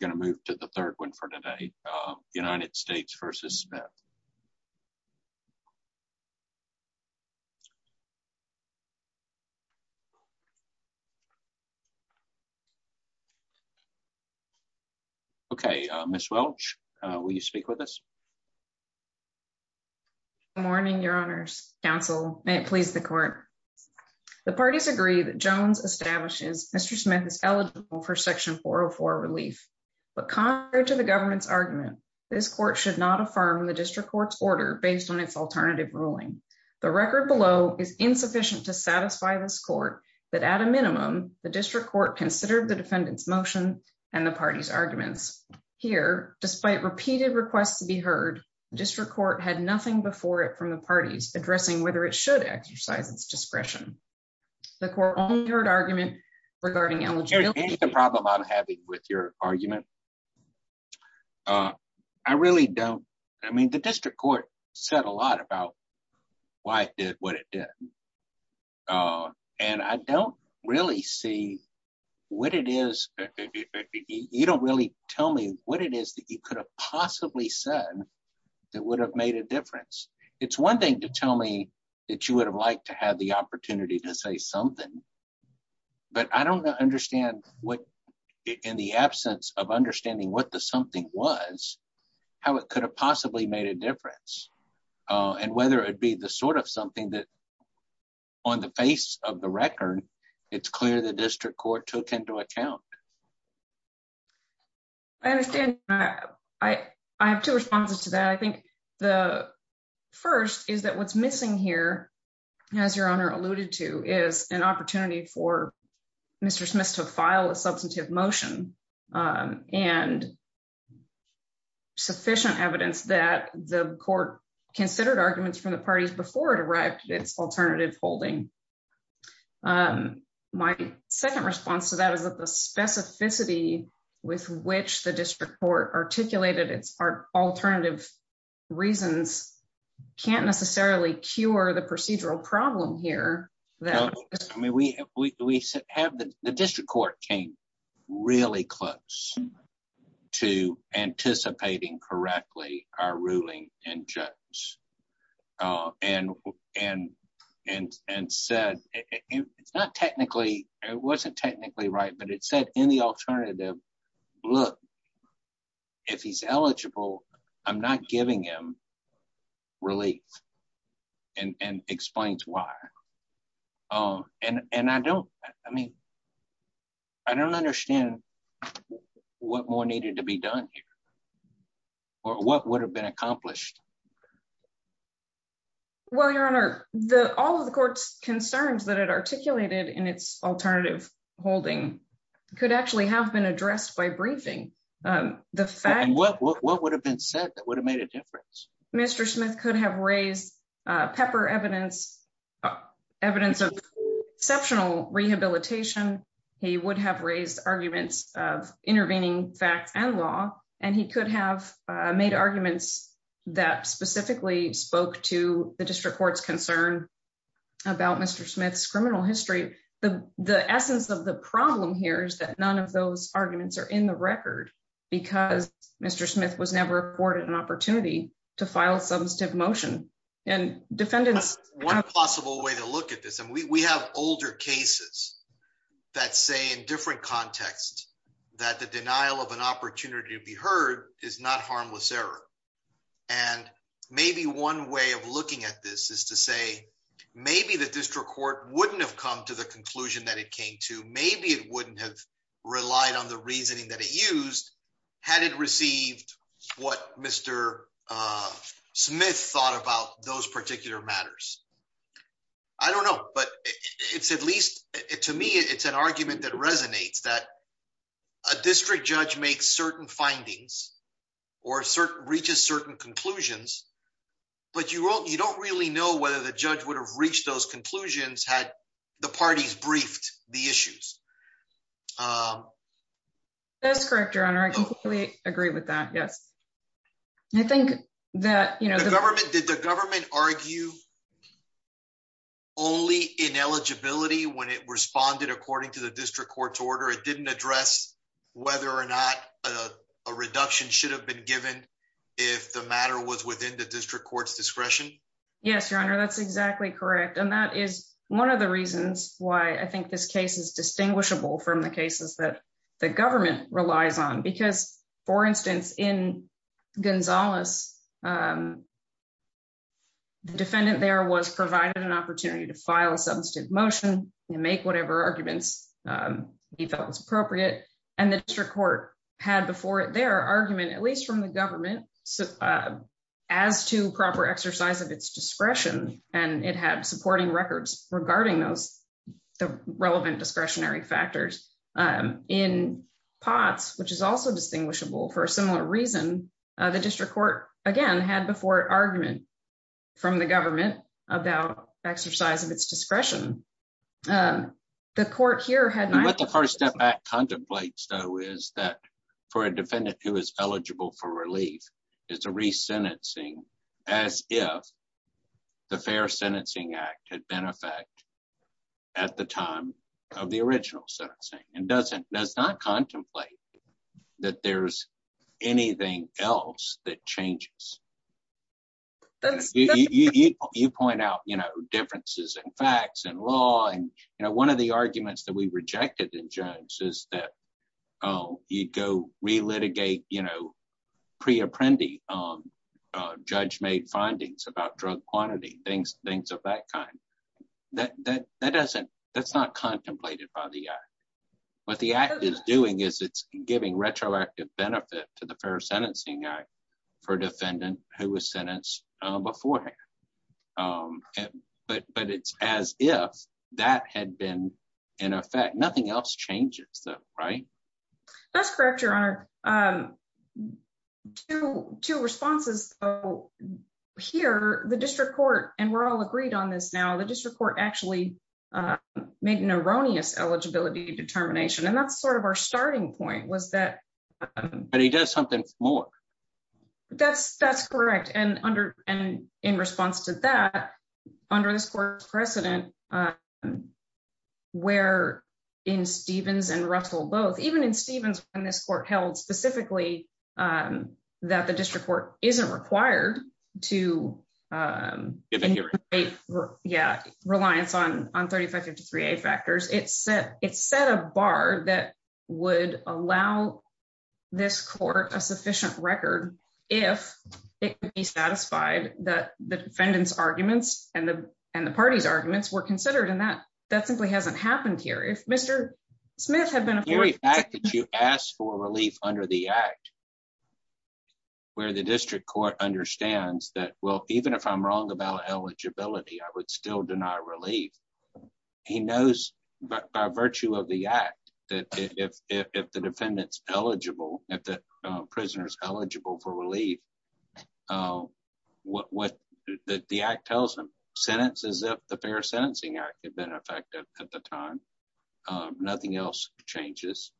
We're going to move to the third one for today, United States v. Smith. Okay, Miss Welch, will you speak with us? Good morning, Your Honors. Counsel, may it please the court. The parties agree that Jones establishes Mr. Smith is eligible for Section 404 relief. But contrary to the government's argument, this court should not affirm the district court's order based on its alternative ruling. The record below is insufficient to satisfy this court that at a minimum the district court considered the defendant's motion and the party's arguments. Here, despite repeated requests to be heard, the district court had nothing before it from the parties addressing whether it should exercise its discretion. The court only heard argument regarding eligibility. Here's the problem I'm having with your argument. I really don't. I mean, the district court said a lot about why it did what it did. And I don't really see what it is. You don't really tell me what it is that you could have possibly said that would have made a difference. It's one thing to tell me that you would have liked to have the opportunity to say something. But I don't understand what, in the absence of understanding what the something was, how it could have possibly made a difference and whether it be the sort of something that on the face of the record, it's clear the district court took into account. I understand. I have two responses to that. I think the first is that what's missing here, as your opportunity for Mr. Smith to file a substantive motion and sufficient evidence that the court considered arguments from the parties before it arrived at its alternative holding. My second response to that is that the specificity with which the district court articulated its are alternative reasons can't necessarily cure the procedural problem here that we have the district court came really close to anticipating correctly our ruling and judge and said it's not technically it wasn't technically right, but it said in the alternative look, if he's eligible, I'm not giving him relief and explains why and I don't, I mean, I don't understand what more needed to be done here or what would have been accomplished. Well, your honor the all of the court's concerns that it articulated in its alternative holding could actually have been addressed by briefing the fact what would have been said that would have made a difference. Mr. Smith could have raised pepper evidence evidence of exceptional rehabilitation. He would have raised arguments of intervening facts and law and he could have made arguments that specifically spoke to the district court's concern about Mr. Smith's criminal history. The the essence of the problem here is that none of those arguments are in the record because Mr. file substantive motion and defendants one possible way to look at this and we have older cases that say in different context that the denial of an opportunity to be heard is not harmless error and maybe one way of looking at this is to say maybe the district court wouldn't have come to the conclusion that it came to maybe it wouldn't have relied on the reasoning that it used had it received what Mr. Smith thought about those particular matters. I don't know but it's at least it to me. It's an argument that resonates that a district judge makes certain findings or certain reaches certain conclusions, but you won't you don't really know whether the judge would have reached those conclusions had the parties briefed the issues. That's correct. Your Honor. I completely agree with that. Yes. I think that you know, the government did the government argue only ineligibility when it responded according to the district court's order. It didn't address whether or not a reduction should have been given if the matter was within the district court's discretion. Yes, your Honor. That's exactly correct. And that is one of the reasons why I think this case is relies on because for instance in Gonzales defendant there was provided an opportunity to file a substantive motion and make whatever arguments he felt was appropriate and the district court had before it their argument at least from the government as to proper exercise of its discretion and it had supporting records regarding those the relevant discretionary factors in pots, which is also distinguishable for a similar reason. The district court again had before it argument from the government about exercise of its discretion. The court here had not the first step back contemplate. So is that for a defendant who is eligible for relief is a re-sentencing as if the Fair Sentencing Act had been effect at the time of the original sentencing and doesn't does not contemplate that there's anything else that changes. You point out, you know differences in facts and law and you know, one of the arguments that we rejected in Jones is that you go re-litigate, you know, pre-apprendi judge-made findings about drug quantity things things of that kind that that doesn't that's not contemplated by the act what the act is doing is it's giving retroactive benefit to the Fair Sentencing Act for defendant who was sentenced beforehand, but but it's as if that had been in effect. Nothing else changes though, right? That's correct. Your honor to two responses. Here the district court and we're all agreed on this. Now the district court actually make an erroneous eligibility determination and that's sort of our starting point was that but he does something for that's that's correct. And under and in response to that under this court precedent where in Stevens and Russell both even in Stevens when this court held specifically that the district court isn't required to give it here. Yeah reliance on on 3553 a factors. It said it said a bar that would allow this court a sufficient record if it could be satisfied that the defendants arguments and the and the party's arguments were considered in that that simply hasn't happened here. If Mr. Smith had been a very fact that you asked for relief under the act. Where the district court understands that well, even if I'm wrong about eligibility, I would still deny relief. He knows by virtue of the act that if the defendants eligible at the prisoners eligible for relief what what the act tells them sentences of the fair sentencing act have been effective at the time. Nothing else changes.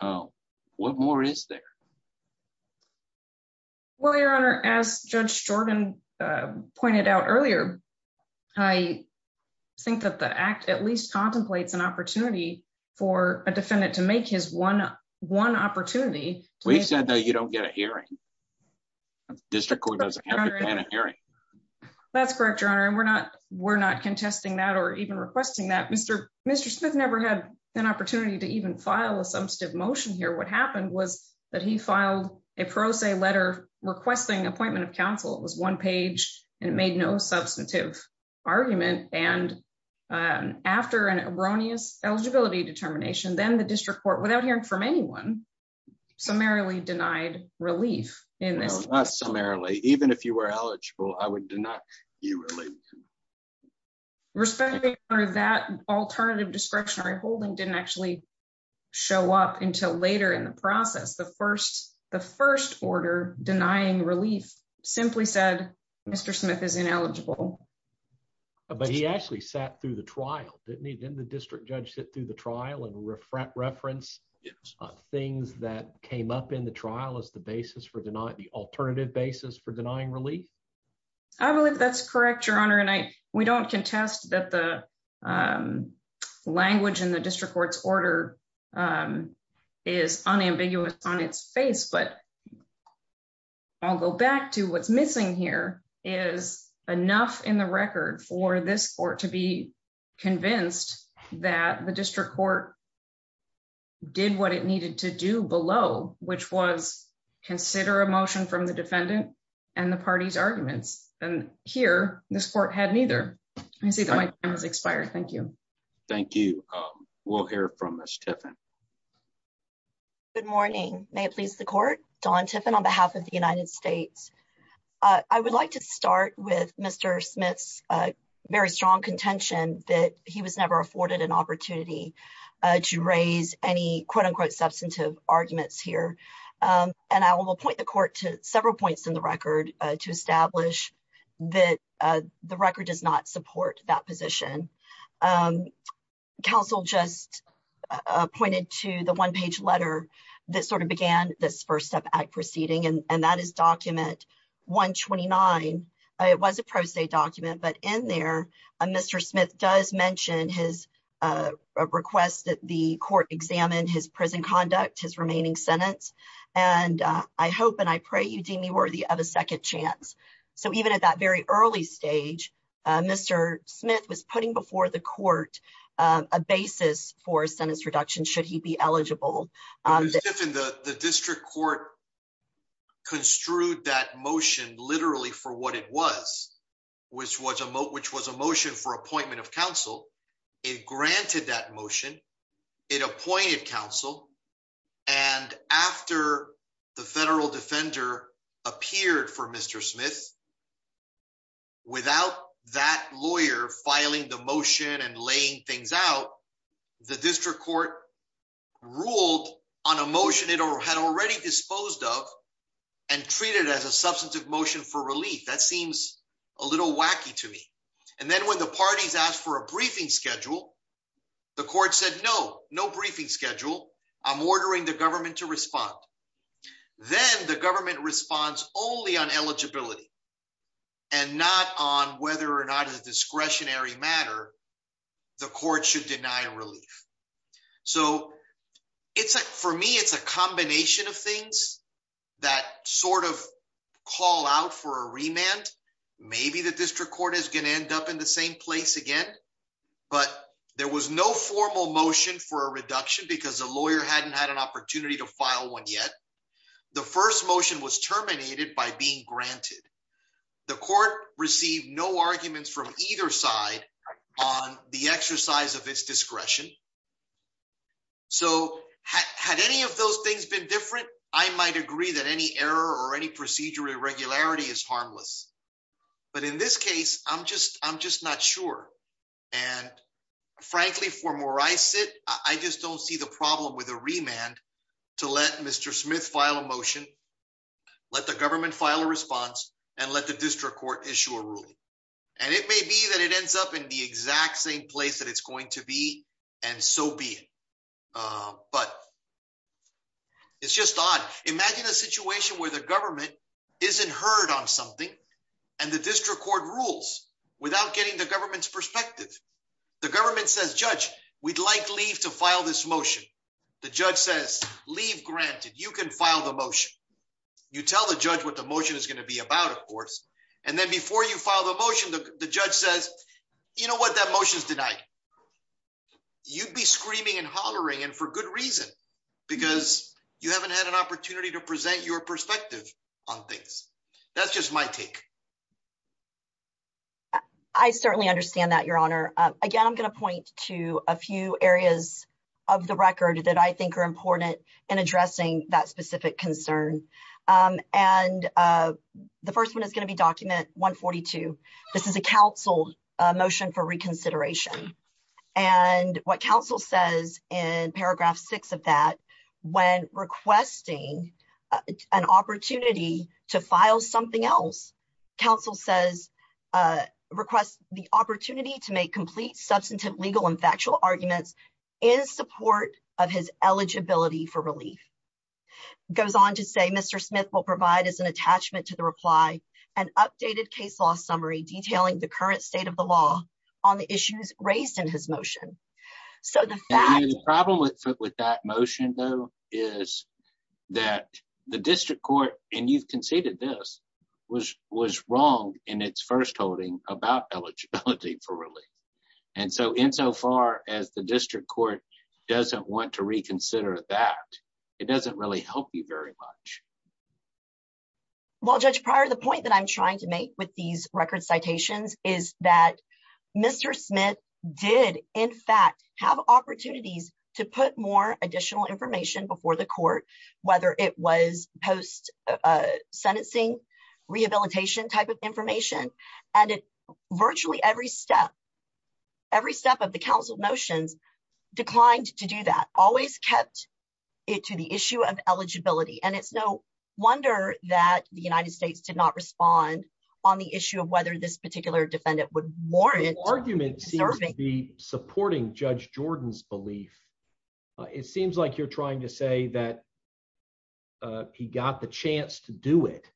What more is there? Well, your honor as judge Jordan pointed out earlier, I think that the act at least contemplates an opportunity for a defendant to make his 11 opportunity. We said that you don't get a hearing. District Court doesn't have a hearing. That's correct. Your honor. And we're not we're not contesting that or even requesting that Mr. Mr. Smith never had an opportunity to even file a substantive motion here. What happened was that he filed a pro se letter requesting appointment of counsel. It was one page and made no substantive argument and after an erroneous eligibility determination. Then the district court without hearing from anyone summarily denied relief in this summarily, even if you were eligible, I would do not you really respect that alternative discretionary holding didn't actually show up until later in the process. The first the first order denying relief simply said, Mr. Smith is ineligible. But he actually sat through the trial didn't he? Didn't the district judge sit through the trial and reference things that came up in the trial as the basis for deny the alternative basis for denying relief. I believe that's correct, your honor. And I we don't contest that the language in the district court's order is unambiguous on its face, but I'll go back to what's missing here is enough in the record for this court to be convinced that the district court did what it needed to do below which was consider a motion from the defendant and the party's arguments and here this court had neither. Thank you. Thank you. We'll hear from Mr. Good morning. May it please the court Don Tiffin on behalf of the United States. I would like to start with Mr. Smith's very strong contention that he was never afforded an opportunity to raise any quote-unquote substantive arguments here and I will point the court to several points in the record to establish that the record does not support that position council just pointed to the one-page letter that sort of began this first step at proceeding and that is document 129. It was a pro se document but in there a Mr. Smith does mention his request that the court examined his prison conduct his remaining sentence and I hope and I pray you deem me worthy of a second chance. So even at that very early stage, Mr. Smith was putting before the court a basis for sentence reduction. Should he be eligible on the district court? Construed that motion literally for what it was which was a vote which was a motion for appointment of counsel. It granted that motion it appointed counsel and after the federal defender appeared for Mr. Smith. Without that lawyer filing the motion and laying things out the district court ruled on a motion it or had already disposed of and treated as a substantive motion for relief that seems a little wacky to me and then when the parties asked for a briefing schedule, the court said no no briefing schedule. I'm ordering the government to respond. Then the government responds only on eligibility. And not on whether or not a discretionary matter, the court should deny relief. So it's like for me, it's a combination of things that sort of call out for a remand. Maybe the district court is going to end up in the same place again, but there was no formal motion for a reduction because the lawyer hadn't had an opportunity to file one yet. The first motion was terminated by being granted the court received no arguments from either side on the exercise of its discretion. So had any of those things been different I might agree that any error or any procedure irregularity is harmless. But in this case, I'm just I'm just not sure and frankly for more I I just don't see the problem with a remand to let Mr. Smith file a motion. Let the government file a response and let the district court issue a ruling and it may be that it ends up in the exact same place that it's going to be and so be it. But it's just odd. Imagine a situation where the government isn't heard on something and the district court rules without getting the government's perspective. The government says judge we'd like leave to file this motion. The judge says leave granted you can file the motion you tell the judge what the motion is going to be about of course and then before you file the motion the judge says, you know what that motion is tonight. You'd be screaming and hollering and for good reason because you haven't had an opportunity to present your perspective on things. That's just my take. I certainly understand that your honor again. I'm going to point to a few areas of the record that I think are important in addressing that specific concern and the first one is going to be document 142. This is a council motion for reconsideration and what council says and paragraph 6 of that when requesting an opportunity to file something else council says request the opportunity to make complete substantive legal and factual arguments in support of his eligibility for relief goes on to say Mr. Smith will provide as an attachment to the reply and updated case law summary detailing the current state of the law on the issues raised in his motion. So the problem with that motion though is that the district court and you've conceded this was was wrong in its first holding about eligibility for relief and so in so far as the district court doesn't want to reconsider that it doesn't really help you very much. Well judge prior the point that I'm trying to make with these record citations is that Mr. Smith did in fact have opportunities to put more additional information before the court whether it was post sentencing rehabilitation type of information and it virtually every step every step of the council motions declined to do that always kept it to the issue of eligibility and it's no wonder that the United States did not respond on the issue of whether this particular defendant would warrant argument serving the supporting Judge Jordan's belief. It seems like you're trying to say that he got the chance to do it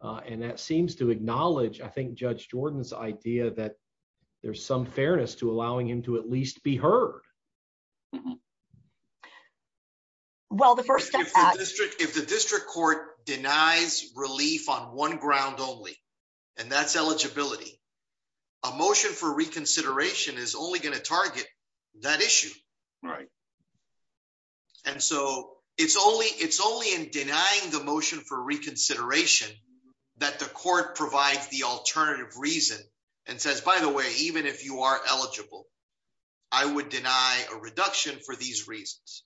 and that seems to acknowledge. I think Judge Jordan's idea that there's some fairness to allowing him to at least be heard. Well, the first district if the district court denies relief on one ground only and that's eligibility a motion for reconsideration is only going to target that issue, right? And so it's only it's only in denying the motion for reconsideration that the court provides the alternative reason and says by the way, even if you are eligible, I would deny a reduction for these reasons.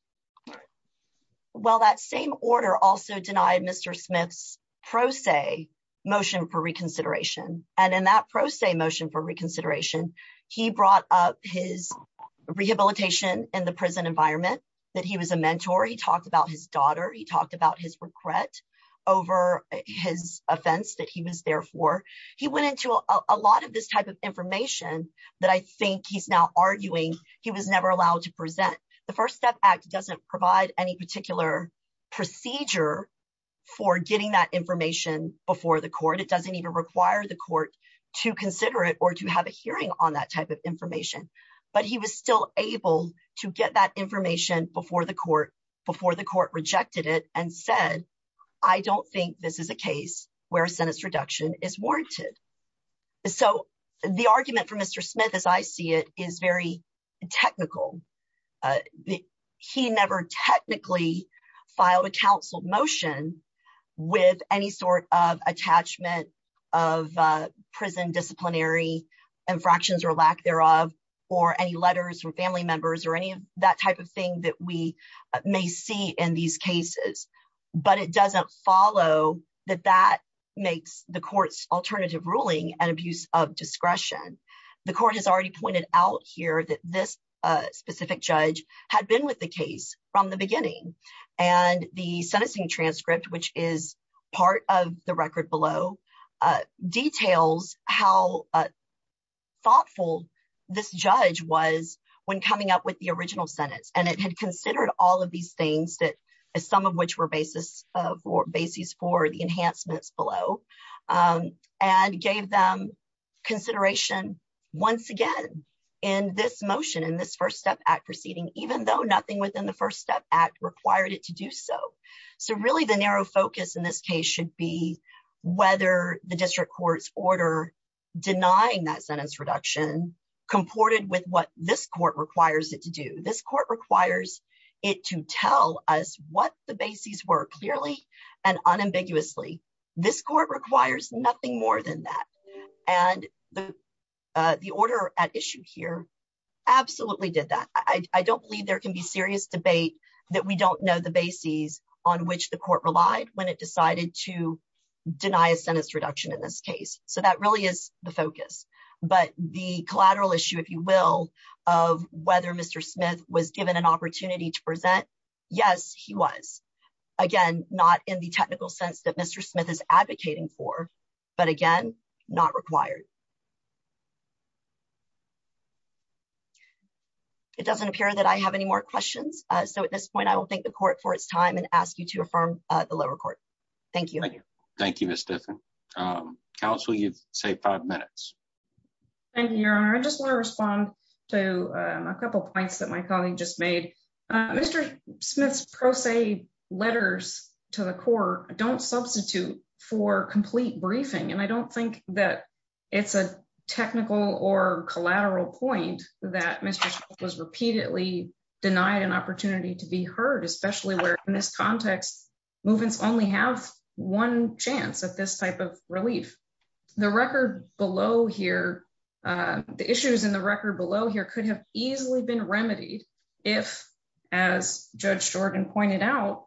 Well that same order also denied Mr. Smith's pro se motion for reconsideration and in that pro se motion for reconsideration, he brought up his rehabilitation in the prison environment that he was a mentor. He talked about his daughter. He talked about his regret over his offense that he was there for he went into a lot of this type of information that I think he's now arguing. He was never allowed to present the first step act doesn't provide any particular procedure for getting that information before the court. It doesn't even require the court to consider it or to have a hearing on that type of information, but he was still able to get that information before the court before the court rejected it and said, I don't think this is a case where a sentence reduction is warranted. So the argument for Mr. Smith as I see it is very technical. He never technically filed a counseled motion with any sort of detachment of prison disciplinary infractions or lack thereof or any letters from family members or any of that type of thing that we may see in these cases, but it doesn't follow that that makes the court's alternative ruling and abuse of discretion. The court has already pointed out here that this specific judge had been with the case from the beginning and the sentencing transcript, which is part of the record below details. How thoughtful this judge was when coming up with the original sentence and it had considered all of these things that as some of which were basis for basis for the enhancements below and gave them consideration once again in this motion in this first step act proceeding, even though nothing within the first step act required it to do so. So really the narrow focus in this case should be whether the district court's order denying that sentence reduction comported with what this court requires it to do this court requires it to tell us what the bases were clearly and unambiguously this court requires nothing more than that and the the order at issue here. Absolutely did that. I don't believe there can be serious debate that we don't know the bases on which the court relied when it decided to deny a sentence reduction in this case. So that really is the focus but the collateral issue if you will of whether Mr. Smith was given an opportunity to present. Yes, he was again not in the technical sense that Mr. Smith is advocating for but again not required. It doesn't appear that I have any more questions. So at this point, I will thank the court for its time and ask you to affirm the lower court. Thank you. Thank you. Thank you. Miss different counsel. You've saved five minutes and your honor. I just want to respond to a couple points that my colleague just made Mr. Smith's pro se letters to the court don't substitute for complete briefing and I don't think that it's a technical or collateral point that Mr. Was repeatedly denied an opportunity to be heard especially where in this context movements only have one chance at this type of relief the record below here. The issues in the record below here could have easily been remedied if as Judge Jordan pointed out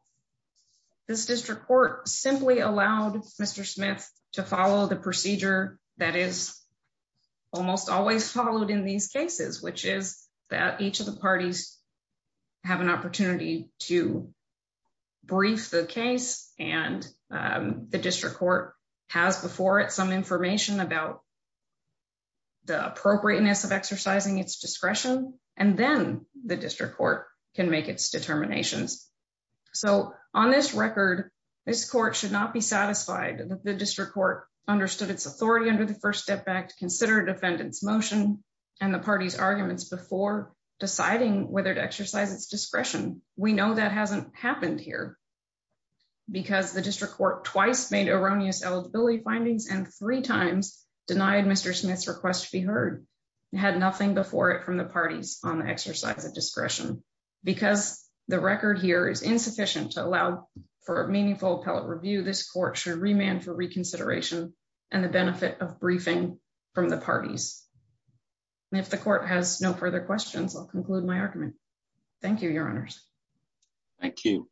this district court simply allowed. Mr. Smith to follow the procedure that is almost always followed in these cases, which is that each of the parties have an opportunity to brief the case and the district court has before it some information about the appropriateness of exercising its discretion and then the district court can make its determinations. So on this record, this court should not be satisfied that the district court understood its authority under the first step back to consider defendants motion and the party's arguments before deciding whether to exercise its discretion. We know that hasn't happened here because the district court twice made erroneous eligibility findings and three times denied. Mr. Smith's request to be heard had nothing before it from the parties on the exercise of discretion because the record here is insufficient to allow for a meaningful appellate review. This court should remand for reconsideration and the benefit of briefing from the parties. If the court has no further questions, I'll conclude my argument. Thank you, your honors. Thank you.